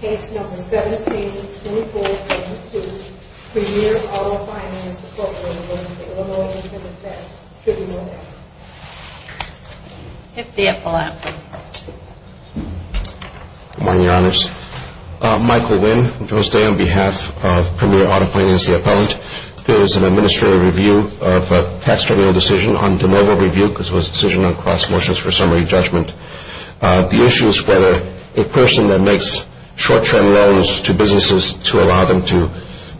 Case No. 17-2472. Premier Auto Finance, Inc. v. The Illinois Independent Tax Tribunal Act. Michael Nguyen, co-host on behalf of Premier Auto Finance, the appellant. This is an administrative review of a tax tribunal decision on de novo review. This was a decision on cross motions for summary judgment. The issue is whether a person that makes short-term loans to businesses to allow them to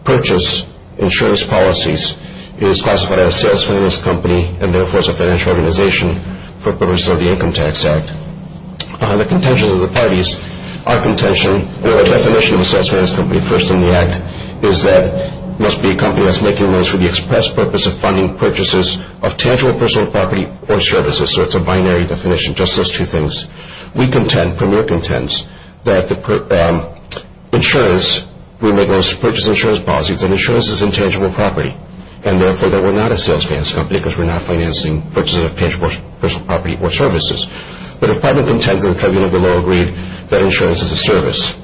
purchase insurance policies is classified as a sales finance company and therefore is a financial organization for purposes of the Income Tax Act. The contention of the parties, our contention, or the definition of a sales finance company first in the Act is that it must be a company that is making loans for the express purpose of funding purchases of tangible personal property or services. So it's a binary definition, just those two things. We contend, Premier contends, that insurance, we make loans to purchase insurance policies, and insurance is intangible property and therefore that we're not a sales finance company because we're not financing purchases of tangible personal property or services. The department contends, and the tribunal below agreed, that insurance is a service.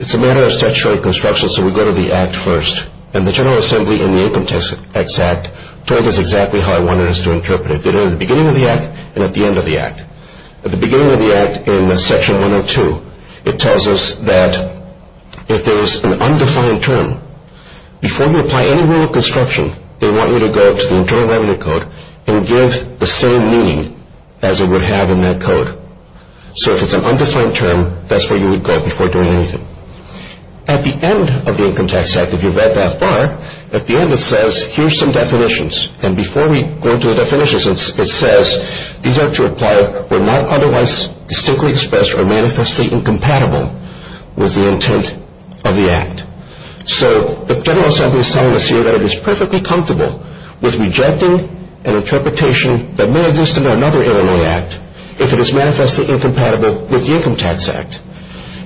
It's a matter of statutory construction, so we go to the Act first. And the General Assembly in the Income Tax Act told us exactly how it wanted us to interpret it. It did it at the beginning of the Act and at the end of the Act. At the beginning of the Act in Section 102, it tells us that if there is an undefined term, before you apply any rule of construction, they want you to go to the Internal Revenue Code and give the same meaning as it would have in that code. So if it's an undefined term, that's where you would go before doing anything. At the end of the Income Tax Act, if you read that bar, at the end it says, here's some definitions. And before we go into the definitions, it says these are to apply where not otherwise distinctly expressed or manifestly incompatible with the intent of the Act. So the General Assembly is telling us here that it is perfectly comfortable with rejecting an interpretation that may exist in another Illinois Act if it is manifestly incompatible with the Income Tax Act.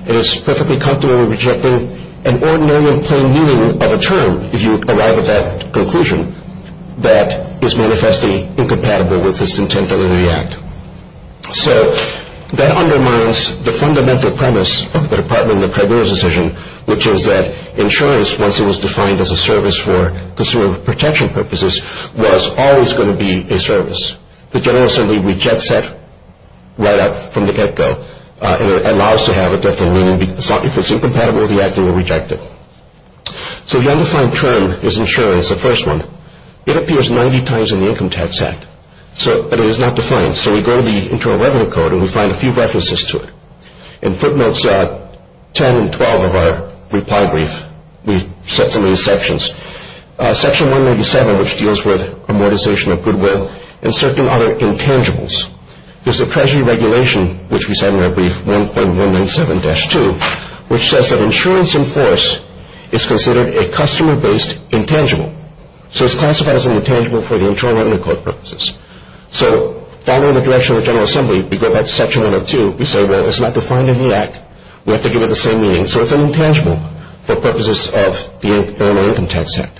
It is perfectly comfortable with rejecting an ordinary and plain meaning of a term, if you arrive at that conclusion, that is manifestly incompatible with its intent under the Act. So that undermines the fundamental premise of the Department of the Treasurer's decision, which is that insurance, once it was defined as a service for consumer protection purposes, was always going to be a service. The General Assembly rejects that right up from the get-go. It allows to have a different meaning. If it's incompatible with the Act, they will reject it. So the undefined term is insurance, the first one. It appears 90 times in the Income Tax Act, but it is not defined. So we go to the Internal Revenue Code, and we find a few references to it. In footnotes 10 and 12 of our reply brief, we set some of these sections. Section 197, which deals with amortization of goodwill, and certain other intangibles. There's a Treasury regulation, which we said in our brief, 1.197-2, which says that insurance in force is considered a customer-based intangible. So it's classified as an intangible for the Internal Revenue Code purposes. So following the direction of the General Assembly, we go back to Section 102. We say, well, it's not defined in the Act. We have to give it the same meaning. So it's an intangible for purposes of the Internal Income Tax Act.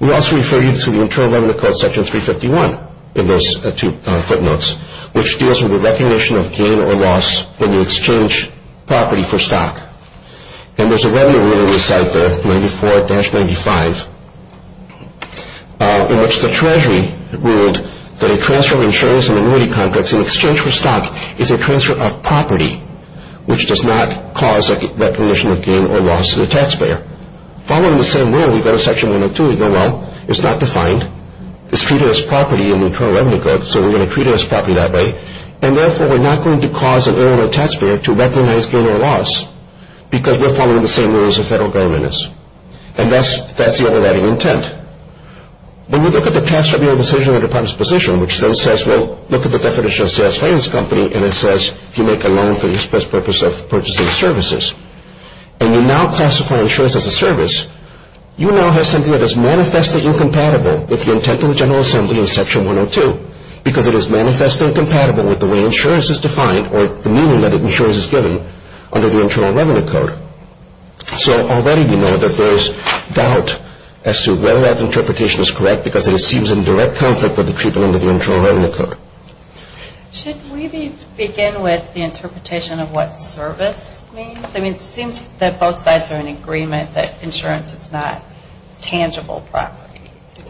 We also refer you to the Internal Revenue Code, Section 351 in those two footnotes, which deals with the recognition of gain or loss when you exchange property for stock. And there's a revenue rule on this side there, 94-95, in which the Treasury ruled that a transfer of insurance in minority contracts in exchange for stock is a transfer of property, which does not cause recognition of gain or loss to the taxpayer. Following the same rule, we go to Section 102. We go, well, it's not defined. It's treated as property in the Internal Revenue Code, so we're going to treat it as property that way. And therefore, we're not going to cause an internal taxpayer to recognize gain or loss because we're following the same rules the federal government is. And that's the overriding intent. When we look at the tax revenue decision in the department's position, which then says, well, look at the definition of a sales finance company, and it says, if you make a loan for the express purpose of purchasing services, and you now classify insurance as a service, you now have something that is manifestly incompatible with the intent of the General Assembly in Section 102 because it is manifestly incompatible with the way insurance is defined or the meaning that insurance is given under the Internal Revenue Code. So already we know that there is doubt as to whether that interpretation is correct because it seems in direct conflict with the treatment under the Internal Revenue Code. Should we begin with the interpretation of what service means? I mean, it seems that both sides are in agreement that insurance is not tangible property.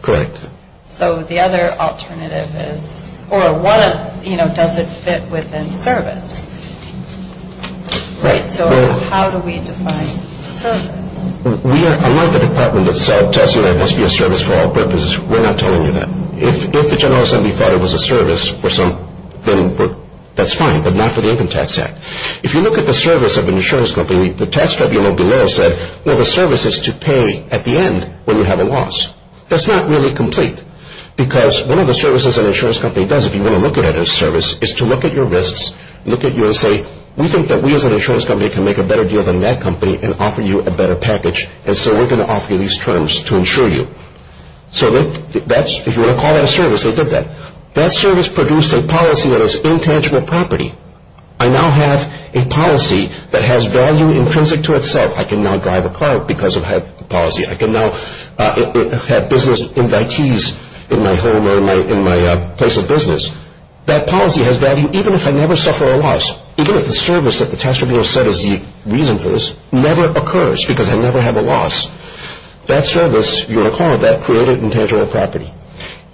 Correct. So the other alternative is, or does it fit within service? Right. So how do we define service? Unlike the department that says it must be a service for all purposes, we're not telling you that. If the General Assembly thought it was a service for some, then that's fine, but not for the Income Tax Act. If you look at the service of an insurance company, the tax tribunal below said, well, the service is to pay at the end when you have a loss. That's not really complete because one of the services an insurance company does if you want to look at a service is to look at your risks, look at you and say, we think that we as an insurance company can make a better deal than that company and offer you a better package, and so we're going to offer you these terms to insure you. So if you want to call that a service, they did that. That service produced a policy that is intangible property. I now have a policy that has value intrinsic to itself. I can now drive a car because of that policy. I can now have business invitees in my home or in my place of business. That policy has value even if I never suffer a loss, even if the service that the tax tribunal said is the reason for this never occurs because I never have a loss. That service, you recall, that created intangible property,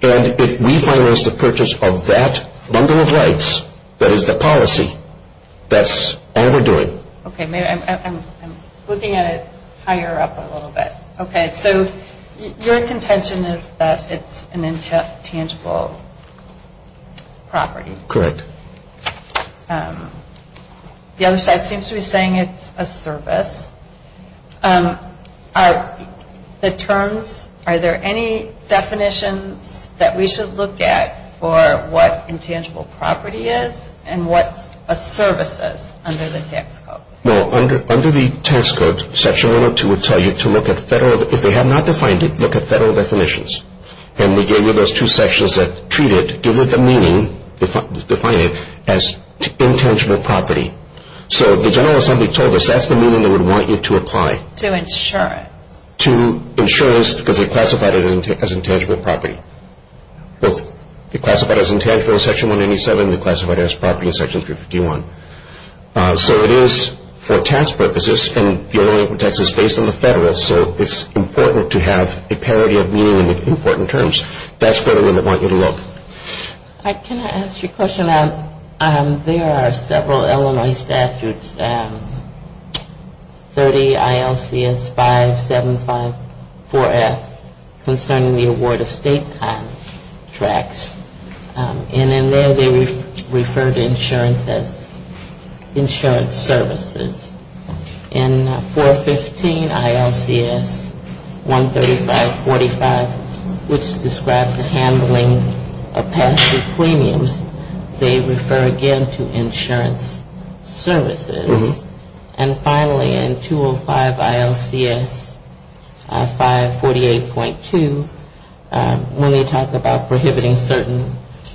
and if we finalize the purchase of that bundle of rights, that is the policy, that's all we're doing. Okay, I'm looking at it higher up a little bit. Okay, so your contention is that it's an intangible property. Correct. The other side seems to be saying it's a service. The terms, are there any definitions that we should look at for what intangible property is and what a service is under the tax code? Well, under the tax code, Section 102 would tell you to look at federal, if they have not defined it, look at federal definitions. And we gave you those two sections that treat it, give it the meaning, define it as intangible property. So the general assembly told us that's the meaning they would want you to apply. To insurance. To insurance because they classified it as intangible property. They classified it as intangible in Section 187. They classified it as property in Section 351. So it is for tax purposes, and the only tax is based on the federal, so it's important to have a parity of meaning in important terms. That's where they want you to look. Can I ask you a question? There are several Illinois statutes, 30 ILCS 5754F, concerning the award of state contracts. And in there they refer to insurance as insurance services. In 415 ILCS 13545, which describes the handling of passive premiums, they refer again to insurance services. And finally, in 205 ILCS 548.2, when they talk about prohibiting certain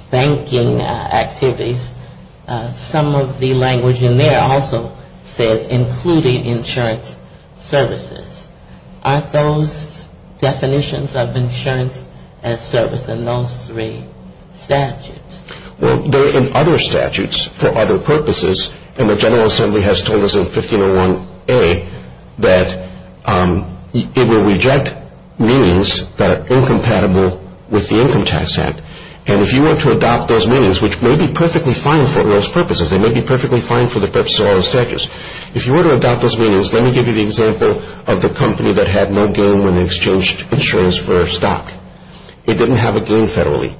banking activities, some of the language in there also says including insurance services. Aren't those definitions of insurance as service in those three statutes? Well, they're in other statutes for other purposes. And the general assembly has told us in 1501A that it will reject meanings that are incompatible with the Income Tax Act. And if you were to adopt those meanings, which may be perfectly fine for those purposes, they may be perfectly fine for the purpose of all those statutes. If you were to adopt those meanings, let me give you the example of the company that had no gain when they exchanged insurance for stock. It didn't have a gain federally.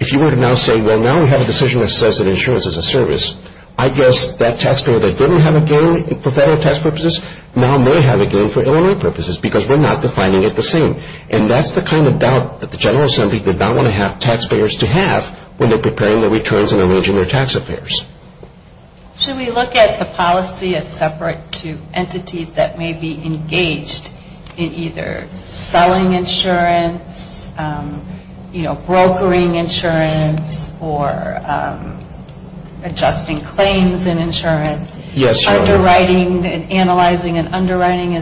If you were to now say, well, now we have a decision that says that insurance is a service, I guess that taxpayer that didn't have a gain for federal tax purposes now may have a gain for Illinois purposes, because we're not defining it the same. And that's the kind of doubt that the general assembly did not want to have taxpayers to have when they're preparing their returns and arranging their tax affairs. Should we look at the policy as separate to entities that may be engaged in either selling insurance, you know, brokering insurance, or adjusting claims in insurance, underwriting and analyzing and underwriting?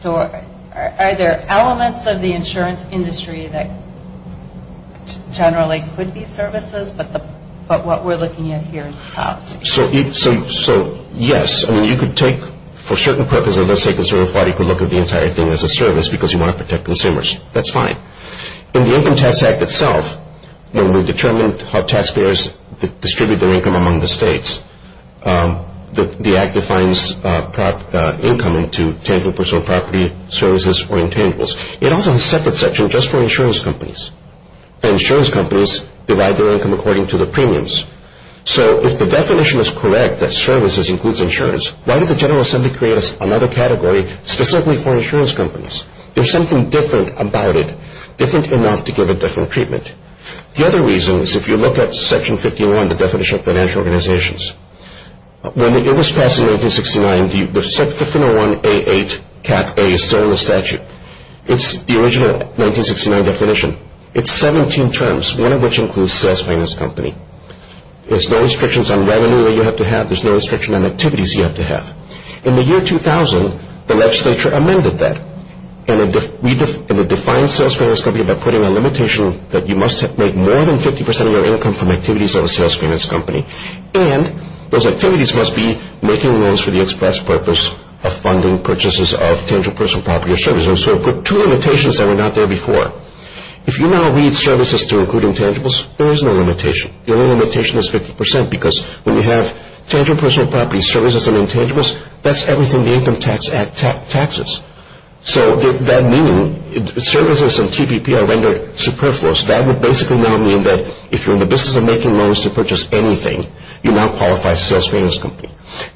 So are there elements of the insurance industry that generally could be services, but what we're looking at here is the policy? So, yes. I mean, you could take, for certain purposes, let's say a conservative party could look at the entire thing as a service because you want to protect consumers. That's fine. In the Income Tax Act itself, when we determined how taxpayers distribute their income among the states, the act defines income into tangible personal property, services, or intangibles. It also has a separate section just for insurance companies. Insurance companies divide their income according to their premiums. So if the definition is correct that services includes insurance, why did the general assembly create another category specifically for insurance companies? There's something different about it, different enough to give a different treatment. The other reason is if you look at Section 51, the definition of financial organizations, when it was passed in 1969, the 1501A.8. A is still in the statute. It's the original 1969 definition. It's 17 terms, one of which includes sales finance company. There's no restrictions on revenue that you have to have. There's no restriction on activities you have to have. In the year 2000, the legislature amended that and it defined sales finance company by putting a limitation that you must make more than 50% of your income from activities of a sales finance company, and those activities must be making loans for the express purpose of funding purchases of tangible personal property or services. So it put two limitations that were not there before. If you now read services to include intangibles, there is no limitation. The only limitation is 50% because when you have tangible personal property, services, and intangibles, that's everything the Income Tax Act taxes. So that means services and TPP are rendered superfluous. That would basically now mean that if you're in the business of making loans to purchase anything, you're not qualified as a sales finance company.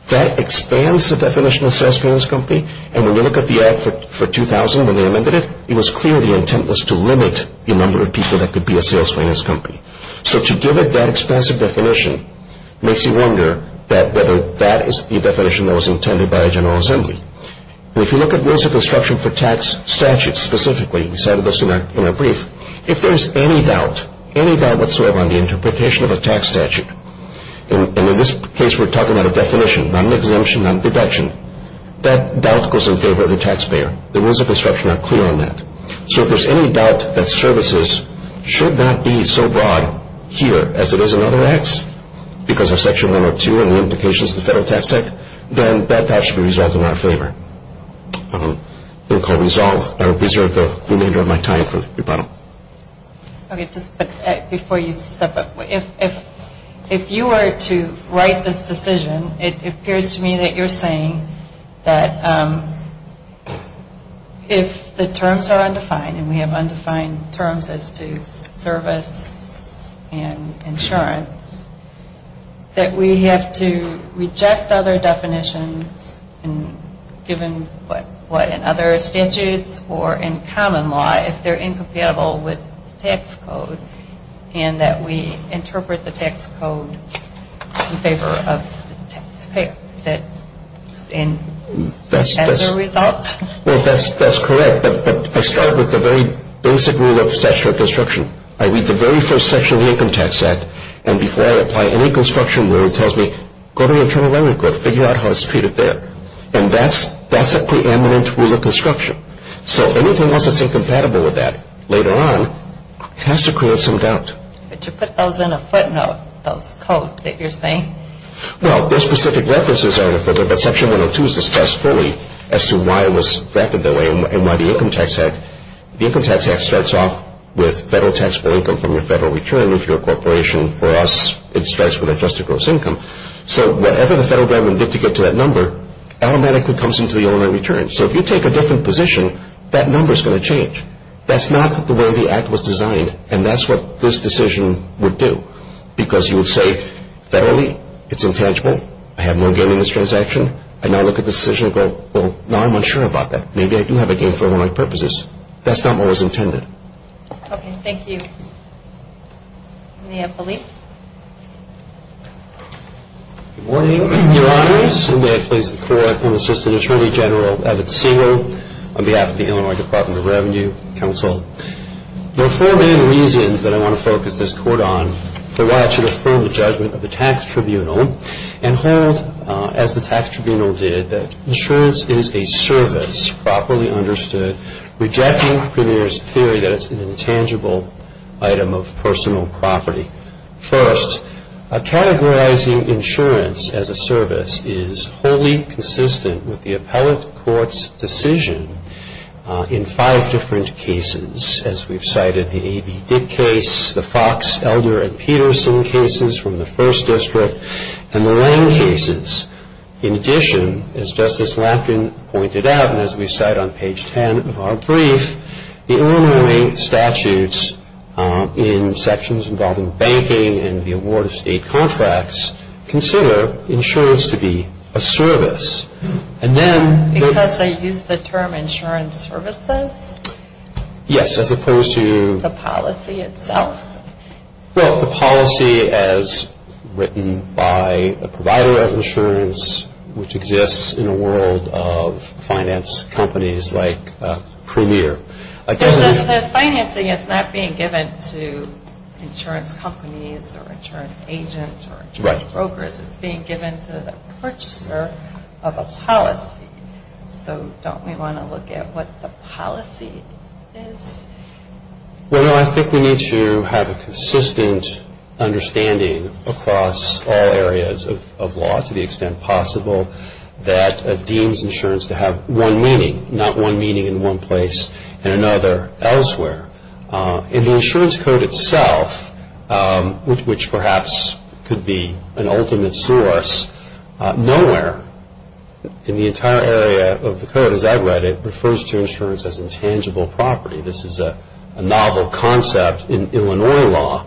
That expands the definition of sales finance company, and when you look at the Act for 2000 when they amended it, it was clear the intent was to limit the number of people that could be a sales finance company. So to give it that expansive definition makes you wonder whether that is the definition that was intended by the General Assembly. If you look at rules of construction for tax statutes specifically, we said this in our brief, if there's any doubt, any doubt whatsoever on the interpretation of a tax statute, and in this case we're talking about a definition, not an exemption, not a deduction, that doubt goes in favor of the taxpayer. The rules of construction are clear on that. So if there's any doubt that services should not be so broad here as it is in other Acts because of Section 102 and the implications of the Federal Tax Act, then that doubt should be resolved in our favor. I will reserve the remainder of my time for rebuttal. Okay, just before you step up, if you were to write this decision, it appears to me that you're saying that if the terms are undefined and we have undefined terms as to service and insurance, that we have to reject other definitions given what in other statutes or in common law if they're incompatible with tax code and that we interpret the tax code in favor of the taxpayer as a result? Well, that's correct. But I start with the very basic rule of statutory construction. I read the very first section of the Income Tax Act, and before I apply any construction rule it tells me, go to the Internal Revenue Group, figure out how it's treated there. And that's the preeminent rule of construction. So anything else that's incompatible with that later on has to create some doubt. But you put those in a footnote, those codes that you're saying. Well, there's specific references there in a footnote, but Section 102 is discussed fully as to why it was drafted that way and why the Income Tax Act starts off with federal taxable income from your federal return if you're a corporation. For us, it starts with adjusted gross income. So whatever the federal government did to get to that number automatically comes into the owner in return. So if you take a different position, that number is going to change. That's not the way the act was designed, and that's what this decision would do because you would say federally it's intangible, I have no gain in this transaction. I now look at this decision and go, well, now I'm unsure about that. Maybe I do have a gain for Illinois purposes. That's not what was intended. Okay. Thank you. Any other belief? Good morning, Your Honors, and may I please the Court and Assistant Attorney General, Abbott Singer, on behalf of the Illinois Department of Revenue Council. There are four main reasons that I want to focus this court on. The right to affirm the judgment of the tax tribunal and hold, as the tax tribunal did, that insurance is a service, properly understood, rejecting Premier's theory that it's an intangible item of personal property. First, categorizing insurance as a service is wholly consistent with the appellate court's decision in five different cases, as we've cited the A.B. Dick case, the Fox, Elder, and Peterson cases from the First District, and the Lange cases. In addition, as Justice Lankin pointed out, and as we cite on page 10 of our brief, the Illinois statutes in sections involving banking and the award of state contracts consider insurance to be a service. And then the- Because they use the term insurance services? Yes, as opposed to- The policy itself? Well, the policy as written by a provider of insurance, which exists in a world of finance companies like Premier. The financing is not being given to insurance companies or insurance agents or insurance brokers. It's being given to the purchaser of a policy. So don't we want to look at what the policy is? Well, no, I think we need to have a consistent understanding across all areas of law, to the extent possible, that it deems insurance to have one meaning, not one meaning in one place and another elsewhere. In the insurance code itself, which perhaps could be an ultimate source, nowhere in the entire area of the code, as I've read it, refers to insurance as intangible property. This is a novel concept in Illinois law.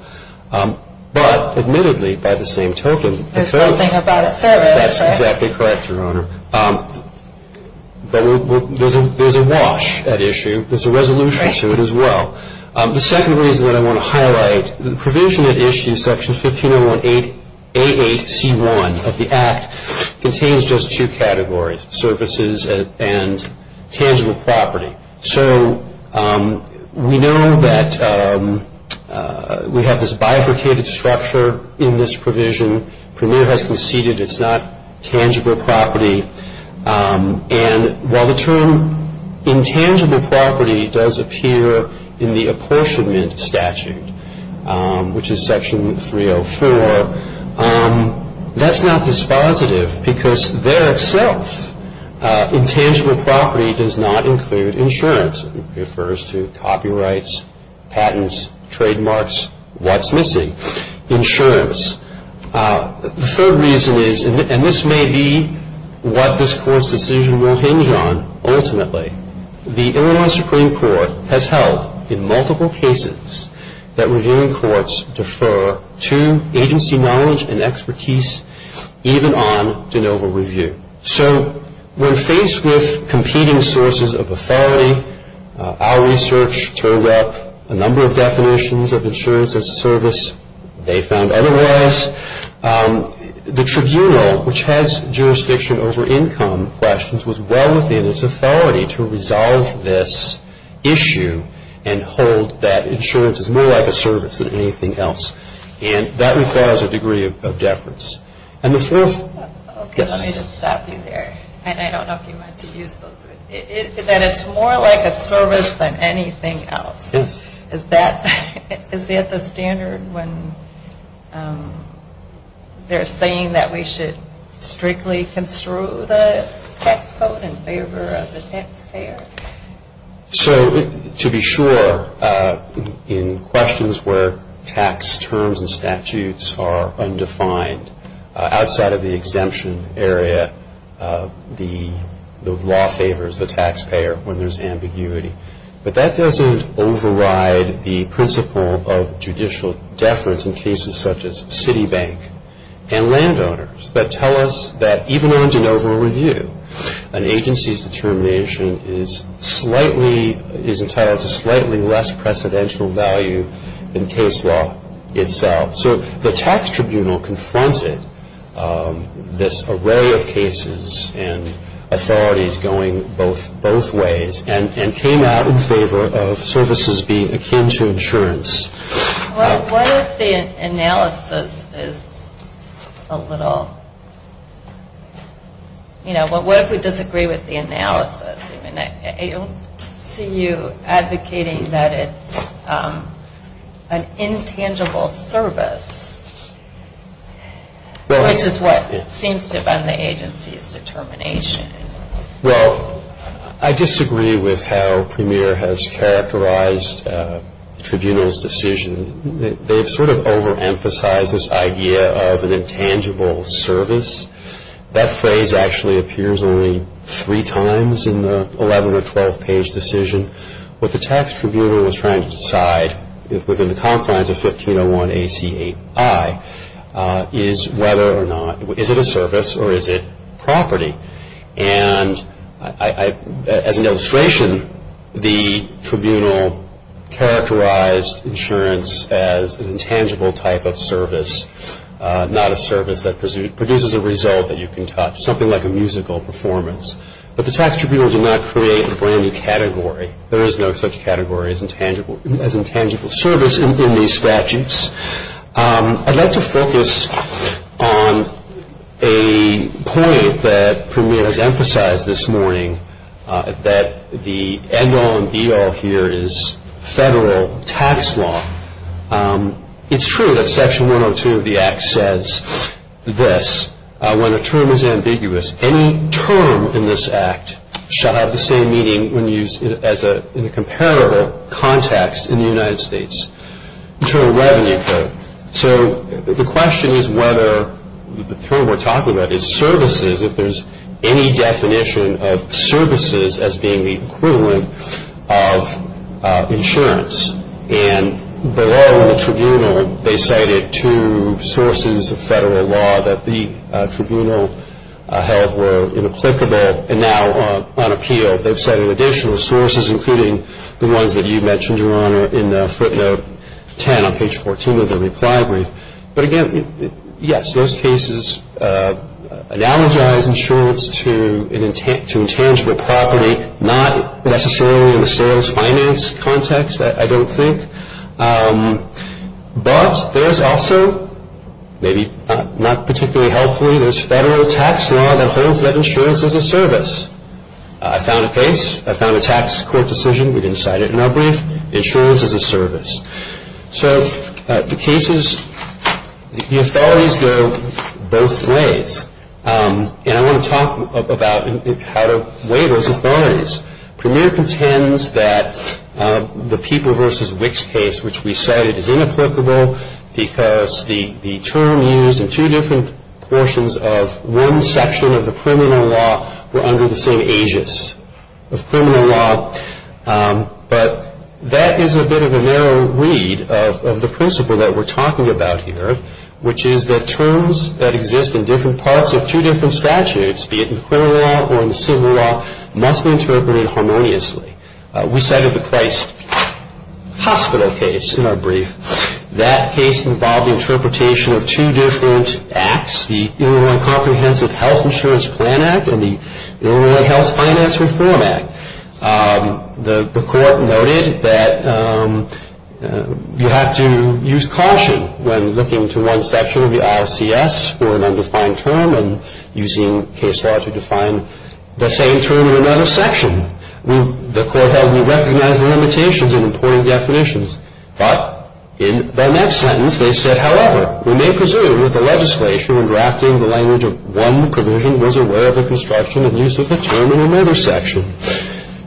But admittedly, by the same token- There's something about a service, right? That's exactly correct, Your Honor. But there's a wash at issue. There's a resolution to it as well. The second reason that I want to highlight, the provision that issues Section 1508A8C1 of the Act contains just two categories, services and tangible property. So we know that we have this bifurcated structure in this provision. Premier has conceded it's not tangible property. And while the term intangible property does appear in the apportionment statute, which is Section 304, that's not dispositive because there itself intangible property does not include insurance. It refers to copyrights, patents, trademarks, what's missing, insurance. The third reason is, and this may be what this Court's decision will hinge on ultimately, the Illinois Supreme Court has held in multiple cases that reviewing courts defer to agency knowledge and expertise even on de novo review. So we're faced with competing sources of authority. Our research turned up a number of definitions of insurance as a service. They found otherwise. The tribunal, which has jurisdiction over income questions, was well within its authority to resolve this issue and hold that insurance is more like a service than anything else. And that requires a degree of deference. And the fourth- Okay, let me just stop you there. And I don't know if you want to use those words. That it's more like a service than anything else. Yes. Is that the standard when they're saying that we should strictly construe the tax code in favor of the taxpayer? So to be sure, in questions where tax terms and statutes are undefined, outside of the exemption area, the law favors the taxpayer when there's ambiguity. But that doesn't override the principle of judicial deference in cases such as Citibank and landowners that tell us that even on de novo review, an agency's determination is entitled to slightly less precedential value than case law itself. So the tax tribunal confronted this array of cases and authorities going both ways and came out in favor of services being akin to insurance. What if the analysis is a little, you know, what if we disagree with the analysis? I mean, I don't see you advocating that it's an intangible service, which is what seems to have been the agency's determination. Well, I disagree with how Premier has characterized the tribunal's decision. They've sort of overemphasized this idea of an intangible service. That phrase actually appears only three times in the 11- or 12-page decision. What the tax tribunal was trying to decide within the confines of 1501 AC8I is whether or not, is it a service or is it property? And as an illustration, the tribunal characterized insurance as an intangible type of service, not a service that produces a result that you can touch, something like a musical performance. But the tax tribunal did not create a brand-new category. There is no such category as intangible service in these statutes. I'd like to focus on a point that Premier has emphasized this morning, that the end-all and be-all here is federal tax law. It's true that Section 102 of the Act says this. When a term is ambiguous, any term in this Act shall have the same meaning when used in a comparable context in the United States. Internal revenue code. So the question is whether the term we're talking about is services, if there's any definition of services as being the equivalent of insurance. And below the tribunal, they cited two sources of federal law that the tribunal held were inapplicable and now on appeal. They've cited additional sources, including the ones that you mentioned, Your Honor, in footnote 10 on page 14 of the reply brief. But again, yes, those cases analogize insurance to intangible property, not necessarily in the sales finance context, I don't think. But there's also, maybe not particularly helpfully, there's federal tax law that holds that insurance is a service. I found a case. I found a tax court decision. We didn't cite it in our brief. Insurance is a service. So the cases, the authorities go both ways. And I want to talk about how to weigh those authorities. Premier contends that the People v. Wicks case, which we cited, is inapplicable because the term used in two different portions of one section of the criminal law were under the same aegis of criminal law. But that is a bit of a narrow read of the principle that we're talking about here, which is that terms that exist in different parts of two different statutes, be it in criminal law or in civil law, must be interpreted harmoniously. We cited the Price Hospital case in our brief. That case involved the interpretation of two different acts, the Illinois Comprehensive Health Insurance Plan Act and the Illinois Health Finance Reform Act. The court noted that you have to use caution when looking to one section of the ILCS for an undefined term and using case law to define the same term in another section. The court held we recognized the limitations in important definitions. But in their next sentence, they said, however, we may presume that the legislation in drafting the language of one provision was aware of the construction and use of the term in another section.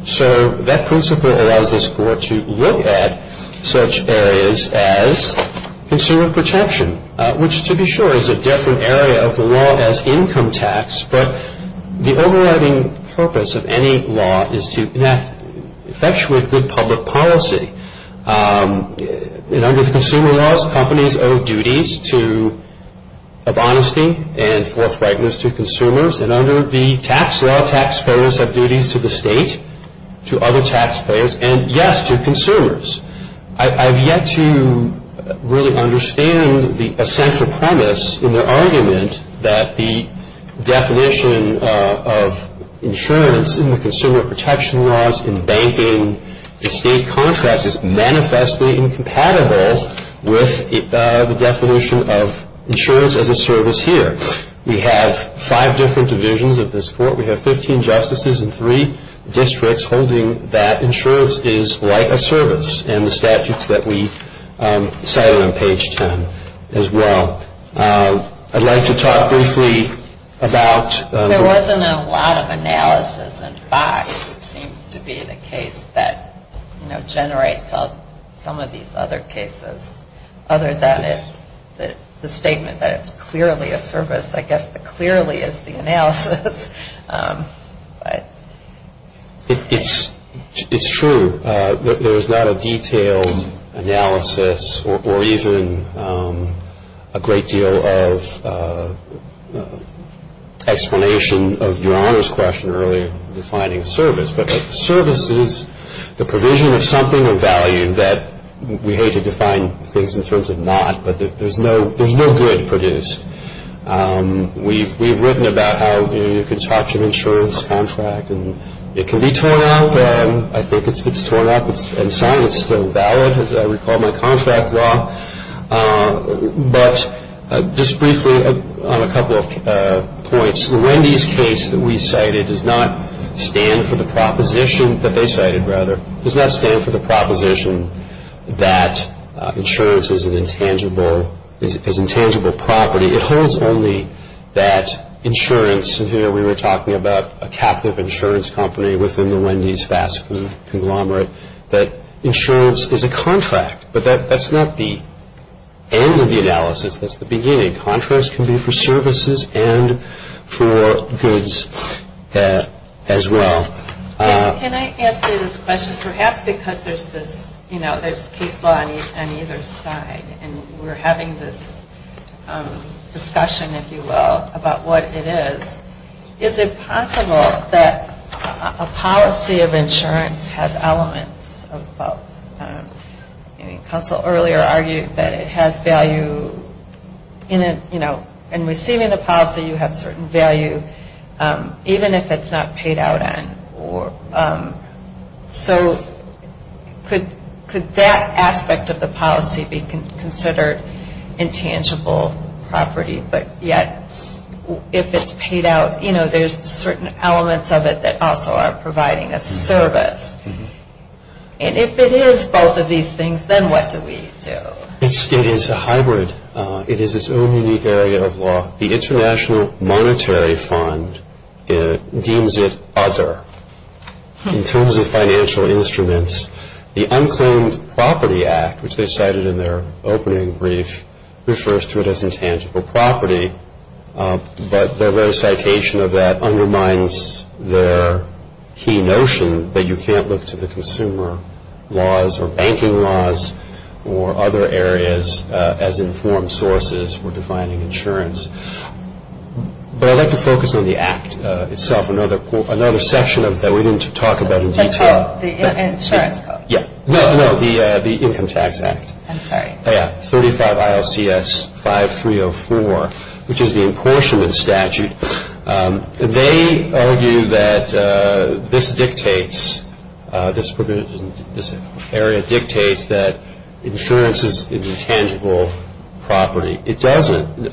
So that principle allows this court to look at such areas as consumer protection, which, to be sure, is a different area of the law as income tax. But the overriding purpose of any law is to enact, effectively, good public policy. And under the consumer laws, companies owe duties of honesty and forthrightness to consumers. And under the tax law, taxpayers have duties to the state, to other taxpayers, and, yes, to consumers. I have yet to really understand the essential premise in their argument that the definition of insurance in the consumer protection laws in banking and state contracts is manifestly incompatible with the definition of insurance as a service here. We have five different divisions of this court. We have 15 justices in three districts holding that insurance is like a service in the statutes that we cited on page 10 as well. I'd like to talk briefly about- There isn't a lot of analysis, in fact, that seems to be the case that generates some of these other cases, other than the statement that it's clearly a service. I guess the clearly is the analysis. It's true. There's not a detailed analysis or even a great deal of explanation of Your Honor's question earlier defining service. But service is the provision of something of value that we hate to define things in terms of not, but there's no good produced. We've written about how you can talk to an insurance contract and it can be torn out. I think it's torn up and signed. It's still valid as I recall my contract law. But just briefly on a couple of points, the Wendy's case that we cited does not stand for the proposition that they cited, rather. It does not stand for the proposition that insurance is an intangible property. It holds only that insurance, and recently we were talking about a capital insurance company within the Wendy's fast food conglomerate, that insurance is a contract. But that's not the end of the analysis. That's the beginning. Contracts can be for services and for goods as well. Can I ask you this question? Perhaps because there's this, you know, there's case law on either side and we're having this discussion, if you will, about what it is. Is it possible that a policy of insurance has elements of both? Council earlier argued that it has value, you know, in receiving the policy you have certain value even if it's not paid out on. So could that aspect of the policy be considered intangible property, but yet if it's paid out, you know, there's certain elements of it that also are providing a service. And if it is both of these things, then what do we do? It is a hybrid. It is its own unique area of law. The International Monetary Fund deems it other. In terms of financial instruments, the Unclaimed Property Act, which they cited in their opening brief, refers to it as intangible property. But their very citation of that undermines their key notion that you can't look to the consumer laws or banking laws or other areas as informed sources for defining insurance. But I'd like to focus on the Act itself, another section that we didn't talk about in detail. The Income Tax Act. Yeah. No, no, the Income Tax Act. I'm sorry. Yeah, 35 ILCS 5304, which is the apportionment statute. They argue that this dictates, this area dictates that insurance is an intangible property. It doesn't.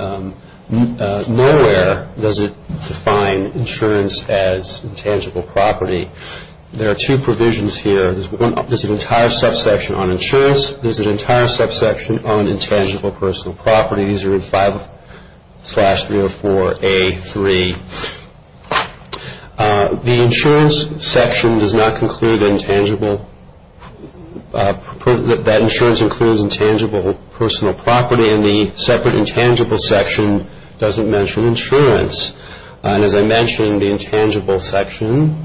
Nowhere does it define insurance as intangible property. There are two provisions here. There's an entire subsection on insurance. There's an entire subsection on intangible personal property. These are in 5304A3. The insurance section does not conclude intangible, that insurance includes intangible personal property, and the separate intangible section doesn't mention insurance. And as I mentioned, the intangible section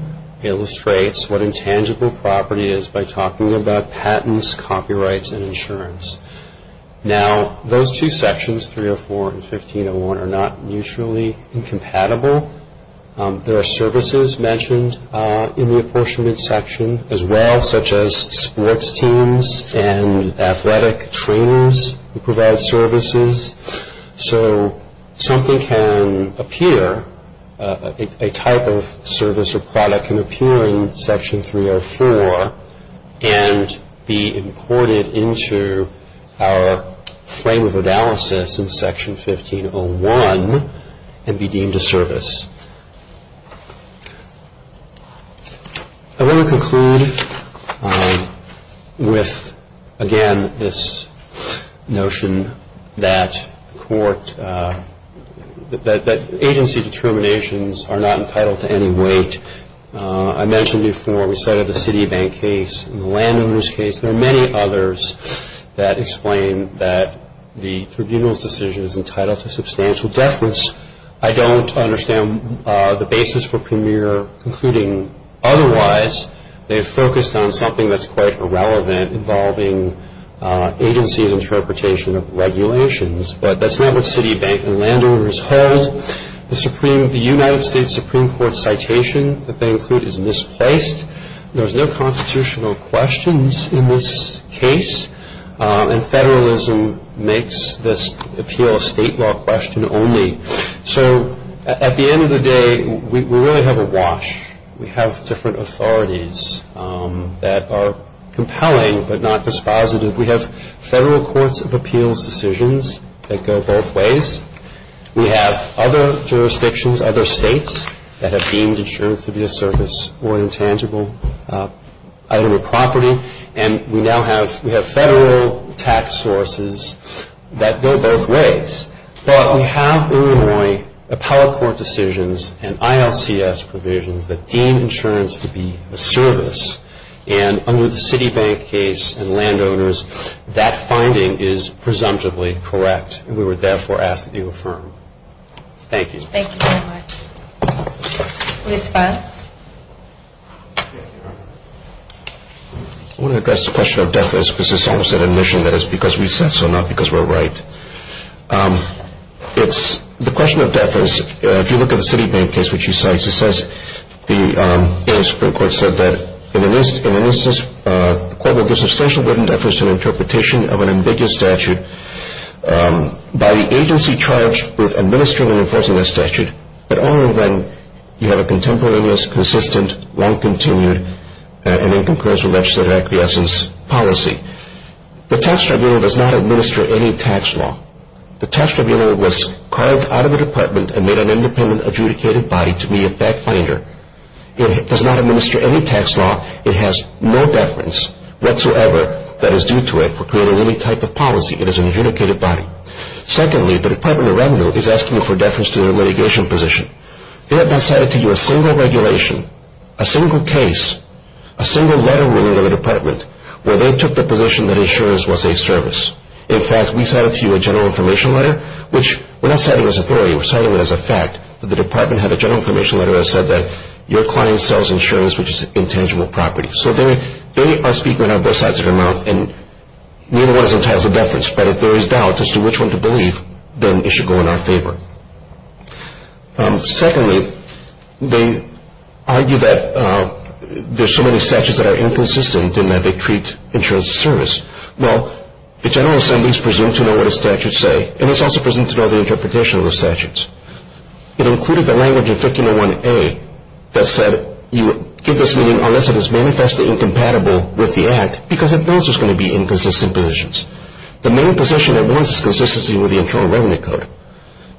illustrates what intangible property is by talking about patents, copyrights, and insurance. Now, those two sections, 304 and 1501, are not mutually incompatible. There are services mentioned in the apportionment section as well, such as sports teams and athletic trainers who provide services. So something can appear, a type of service or product can appear in Section 304 and be imported into our frame of analysis in Section 1501 and be deemed a service. I want to conclude with, again, this notion that agency determinations are not entitled to any weight. I mentioned before we cited the Citibank case and the Landowners case. There are many others that explain that the tribunal's decision is entitled to substantial deference. I don't understand the basis for Premier concluding otherwise. They've focused on something that's quite irrelevant involving agency's interpretation of regulations, but that's not what Citibank and Landowners hold. The United States Supreme Court citation that they include is misplaced. There's no constitutional questions in this case, and federalism makes this appeal a state law question only. So at the end of the day, we really have a wash. We have different authorities that are compelling but not dispositive. We have federal courts of appeals decisions that go both ways. We have other jurisdictions, other states, that have deemed insurance to be a service or an intangible item of property, and we now have federal tax sources that go both ways. But we have in Illinois appellate court decisions and ILCS provisions that deem insurance to be a service, and under the Citibank case and Landowners, that finding is presumptively correct, and we would therefore ask that you affirm. Thank you. Thank you very much. Liz Files. I want to address the question of deference because it's almost an admission that it's because we said so, not because we're right. The question of deference, if you look at the Citibank case, which she cites, it says the Supreme Court said that in an instance, the court will give substantial written deference to an interpretation of an ambiguous statute. By the agency charged with administering and enforcing that statute, but only when you have a contemporaneous, consistent, long-continued, and in concurrence with legislative acquiescence policy. The tax tribunal does not administer any tax law. The tax tribunal was carved out of the department and made an independent adjudicated body to be a fact finder. It does not administer any tax law. It has no deference whatsoever that is due to it for creating any type of policy. It is an adjudicated body. Secondly, the Department of Revenue is asking you for deference to their litigation position. They have not cited to you a single regulation, a single case, a single letter written to the department where they took the position that insurance was a service. In fact, we cited to you a general information letter, which we're not citing as a theory. We're citing it as a fact that the department had a general information letter that said that your client sells insurance, which is an intangible property. So they are speaking out of both sides of their mouth, and neither one is entitled to deference. But if there is doubt as to which one to believe, then it should go in our favor. Secondly, they argue that there are so many statutes that are inconsistent in that they treat insurance as a service. Well, the General Assembly is presumed to know what the statutes say, and it's also presumed to know the interpretation of the statutes. It included the language in 1501A that said you give this meaning unless it is manifestly incompatible with the Act because it knows there's going to be inconsistent positions. The main position it wants is consistency with the Internal Revenue Code,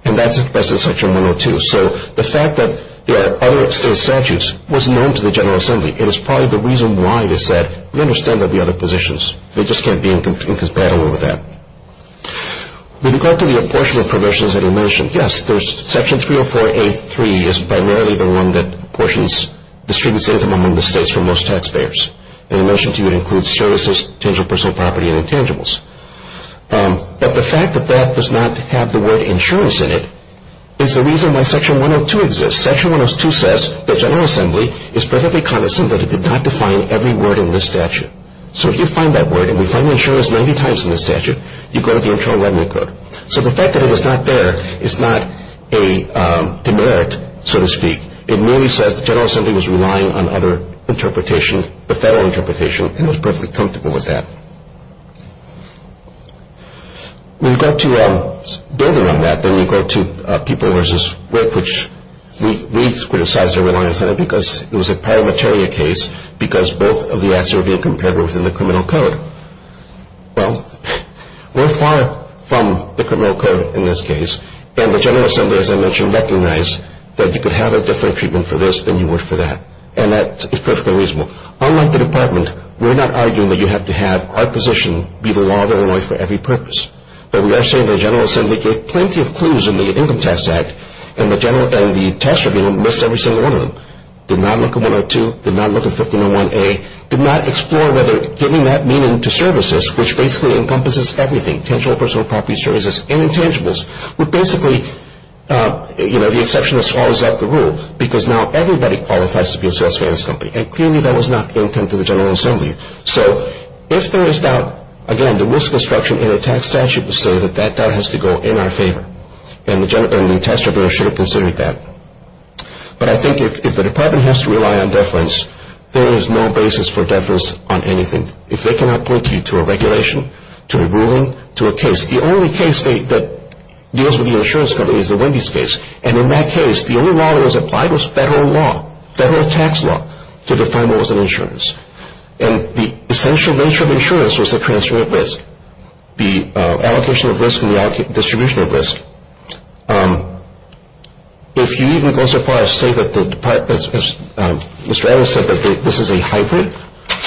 and that's expressed in Section 102. So the fact that there are other state statutes was known to the General Assembly, and it's probably the reason why they said we understand there will be other positions. They just can't be incompatible with that. With regard to the apportionment provisions that are mentioned, yes, there's Section 304A.3 is primarily the one that distributes income among the states for most taxpayers. And it mentioned to you it includes services, tangible personal property, and intangibles. But the fact that that does not have the word insurance in it is the reason why Section 102 exists. Section 102 says the General Assembly is perfectly cognizant that it did not define every word in this statute. So if you find that word, and we find insurance 90 times in this statute, you go to the Internal Revenue Code. So the fact that it is not there is not a demerit, so to speak. It merely says the General Assembly was relying on other interpretation, the federal interpretation, and was perfectly comfortable with that. With regard to building on that, then with regard to people versus work, which we criticize their reliance on it because it was a paramateria case because both of the acts are being compared within the criminal code. Well, we're far from the criminal code in this case, and the General Assembly, as I mentioned, recognized that you could have a different treatment for this than you would for that. And that is perfectly reasonable. Unlike the Department, we're not arguing that you have to have our position be the law of Illinois for every purpose. But we are saying the General Assembly gave plenty of clues in the Income Tax Act, and the tax review missed every single one of them. Did not look at 102, did not look at 1501A, did not explore whether giving that meaning to services, which basically encompasses everything, tangible, personal property, services, and intangibles, would basically, you know, the exception is always out the rule because now everybody qualifies to be a sales finance company. And clearly that was not the intent of the General Assembly. So if there is doubt, again, the risk instruction in the tax statute would say that that doubt has to go in our favor. And the tax review should have considered that. But I think if the Department has to rely on deference, there is no basis for deference on anything. If they cannot point you to a regulation, to a ruling, to a case, the only case that deals with the insurance company is the Wendy's case. And in that case, the only law that was applied was federal law, federal tax law, to define what was an insurance. And the essential nature of insurance was the transfer of risk, the allocation of risk and the distribution of risk. If you even go so far as to say that the Department, as Mr. Adams said, that this is a hybrid,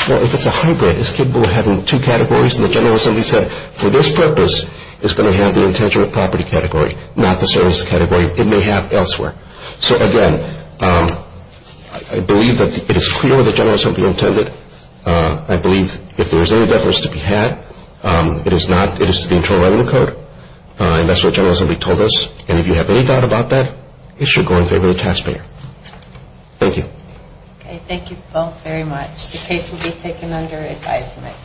well, if it's a hybrid, it's capable of having two categories. And the General Assembly said, for this purpose, it's going to have the intangible property category, not the service category it may have elsewhere. So, again, I believe that it is clear what the General Assembly intended. I believe if there is any deference to be had, it is the Internal Revenue Code. And that's what the General Assembly told us. And if you have any doubt about that, it should go in favor of the taxpayer. Thank you. Okay, thank you both very much. The case will be taken under advisement.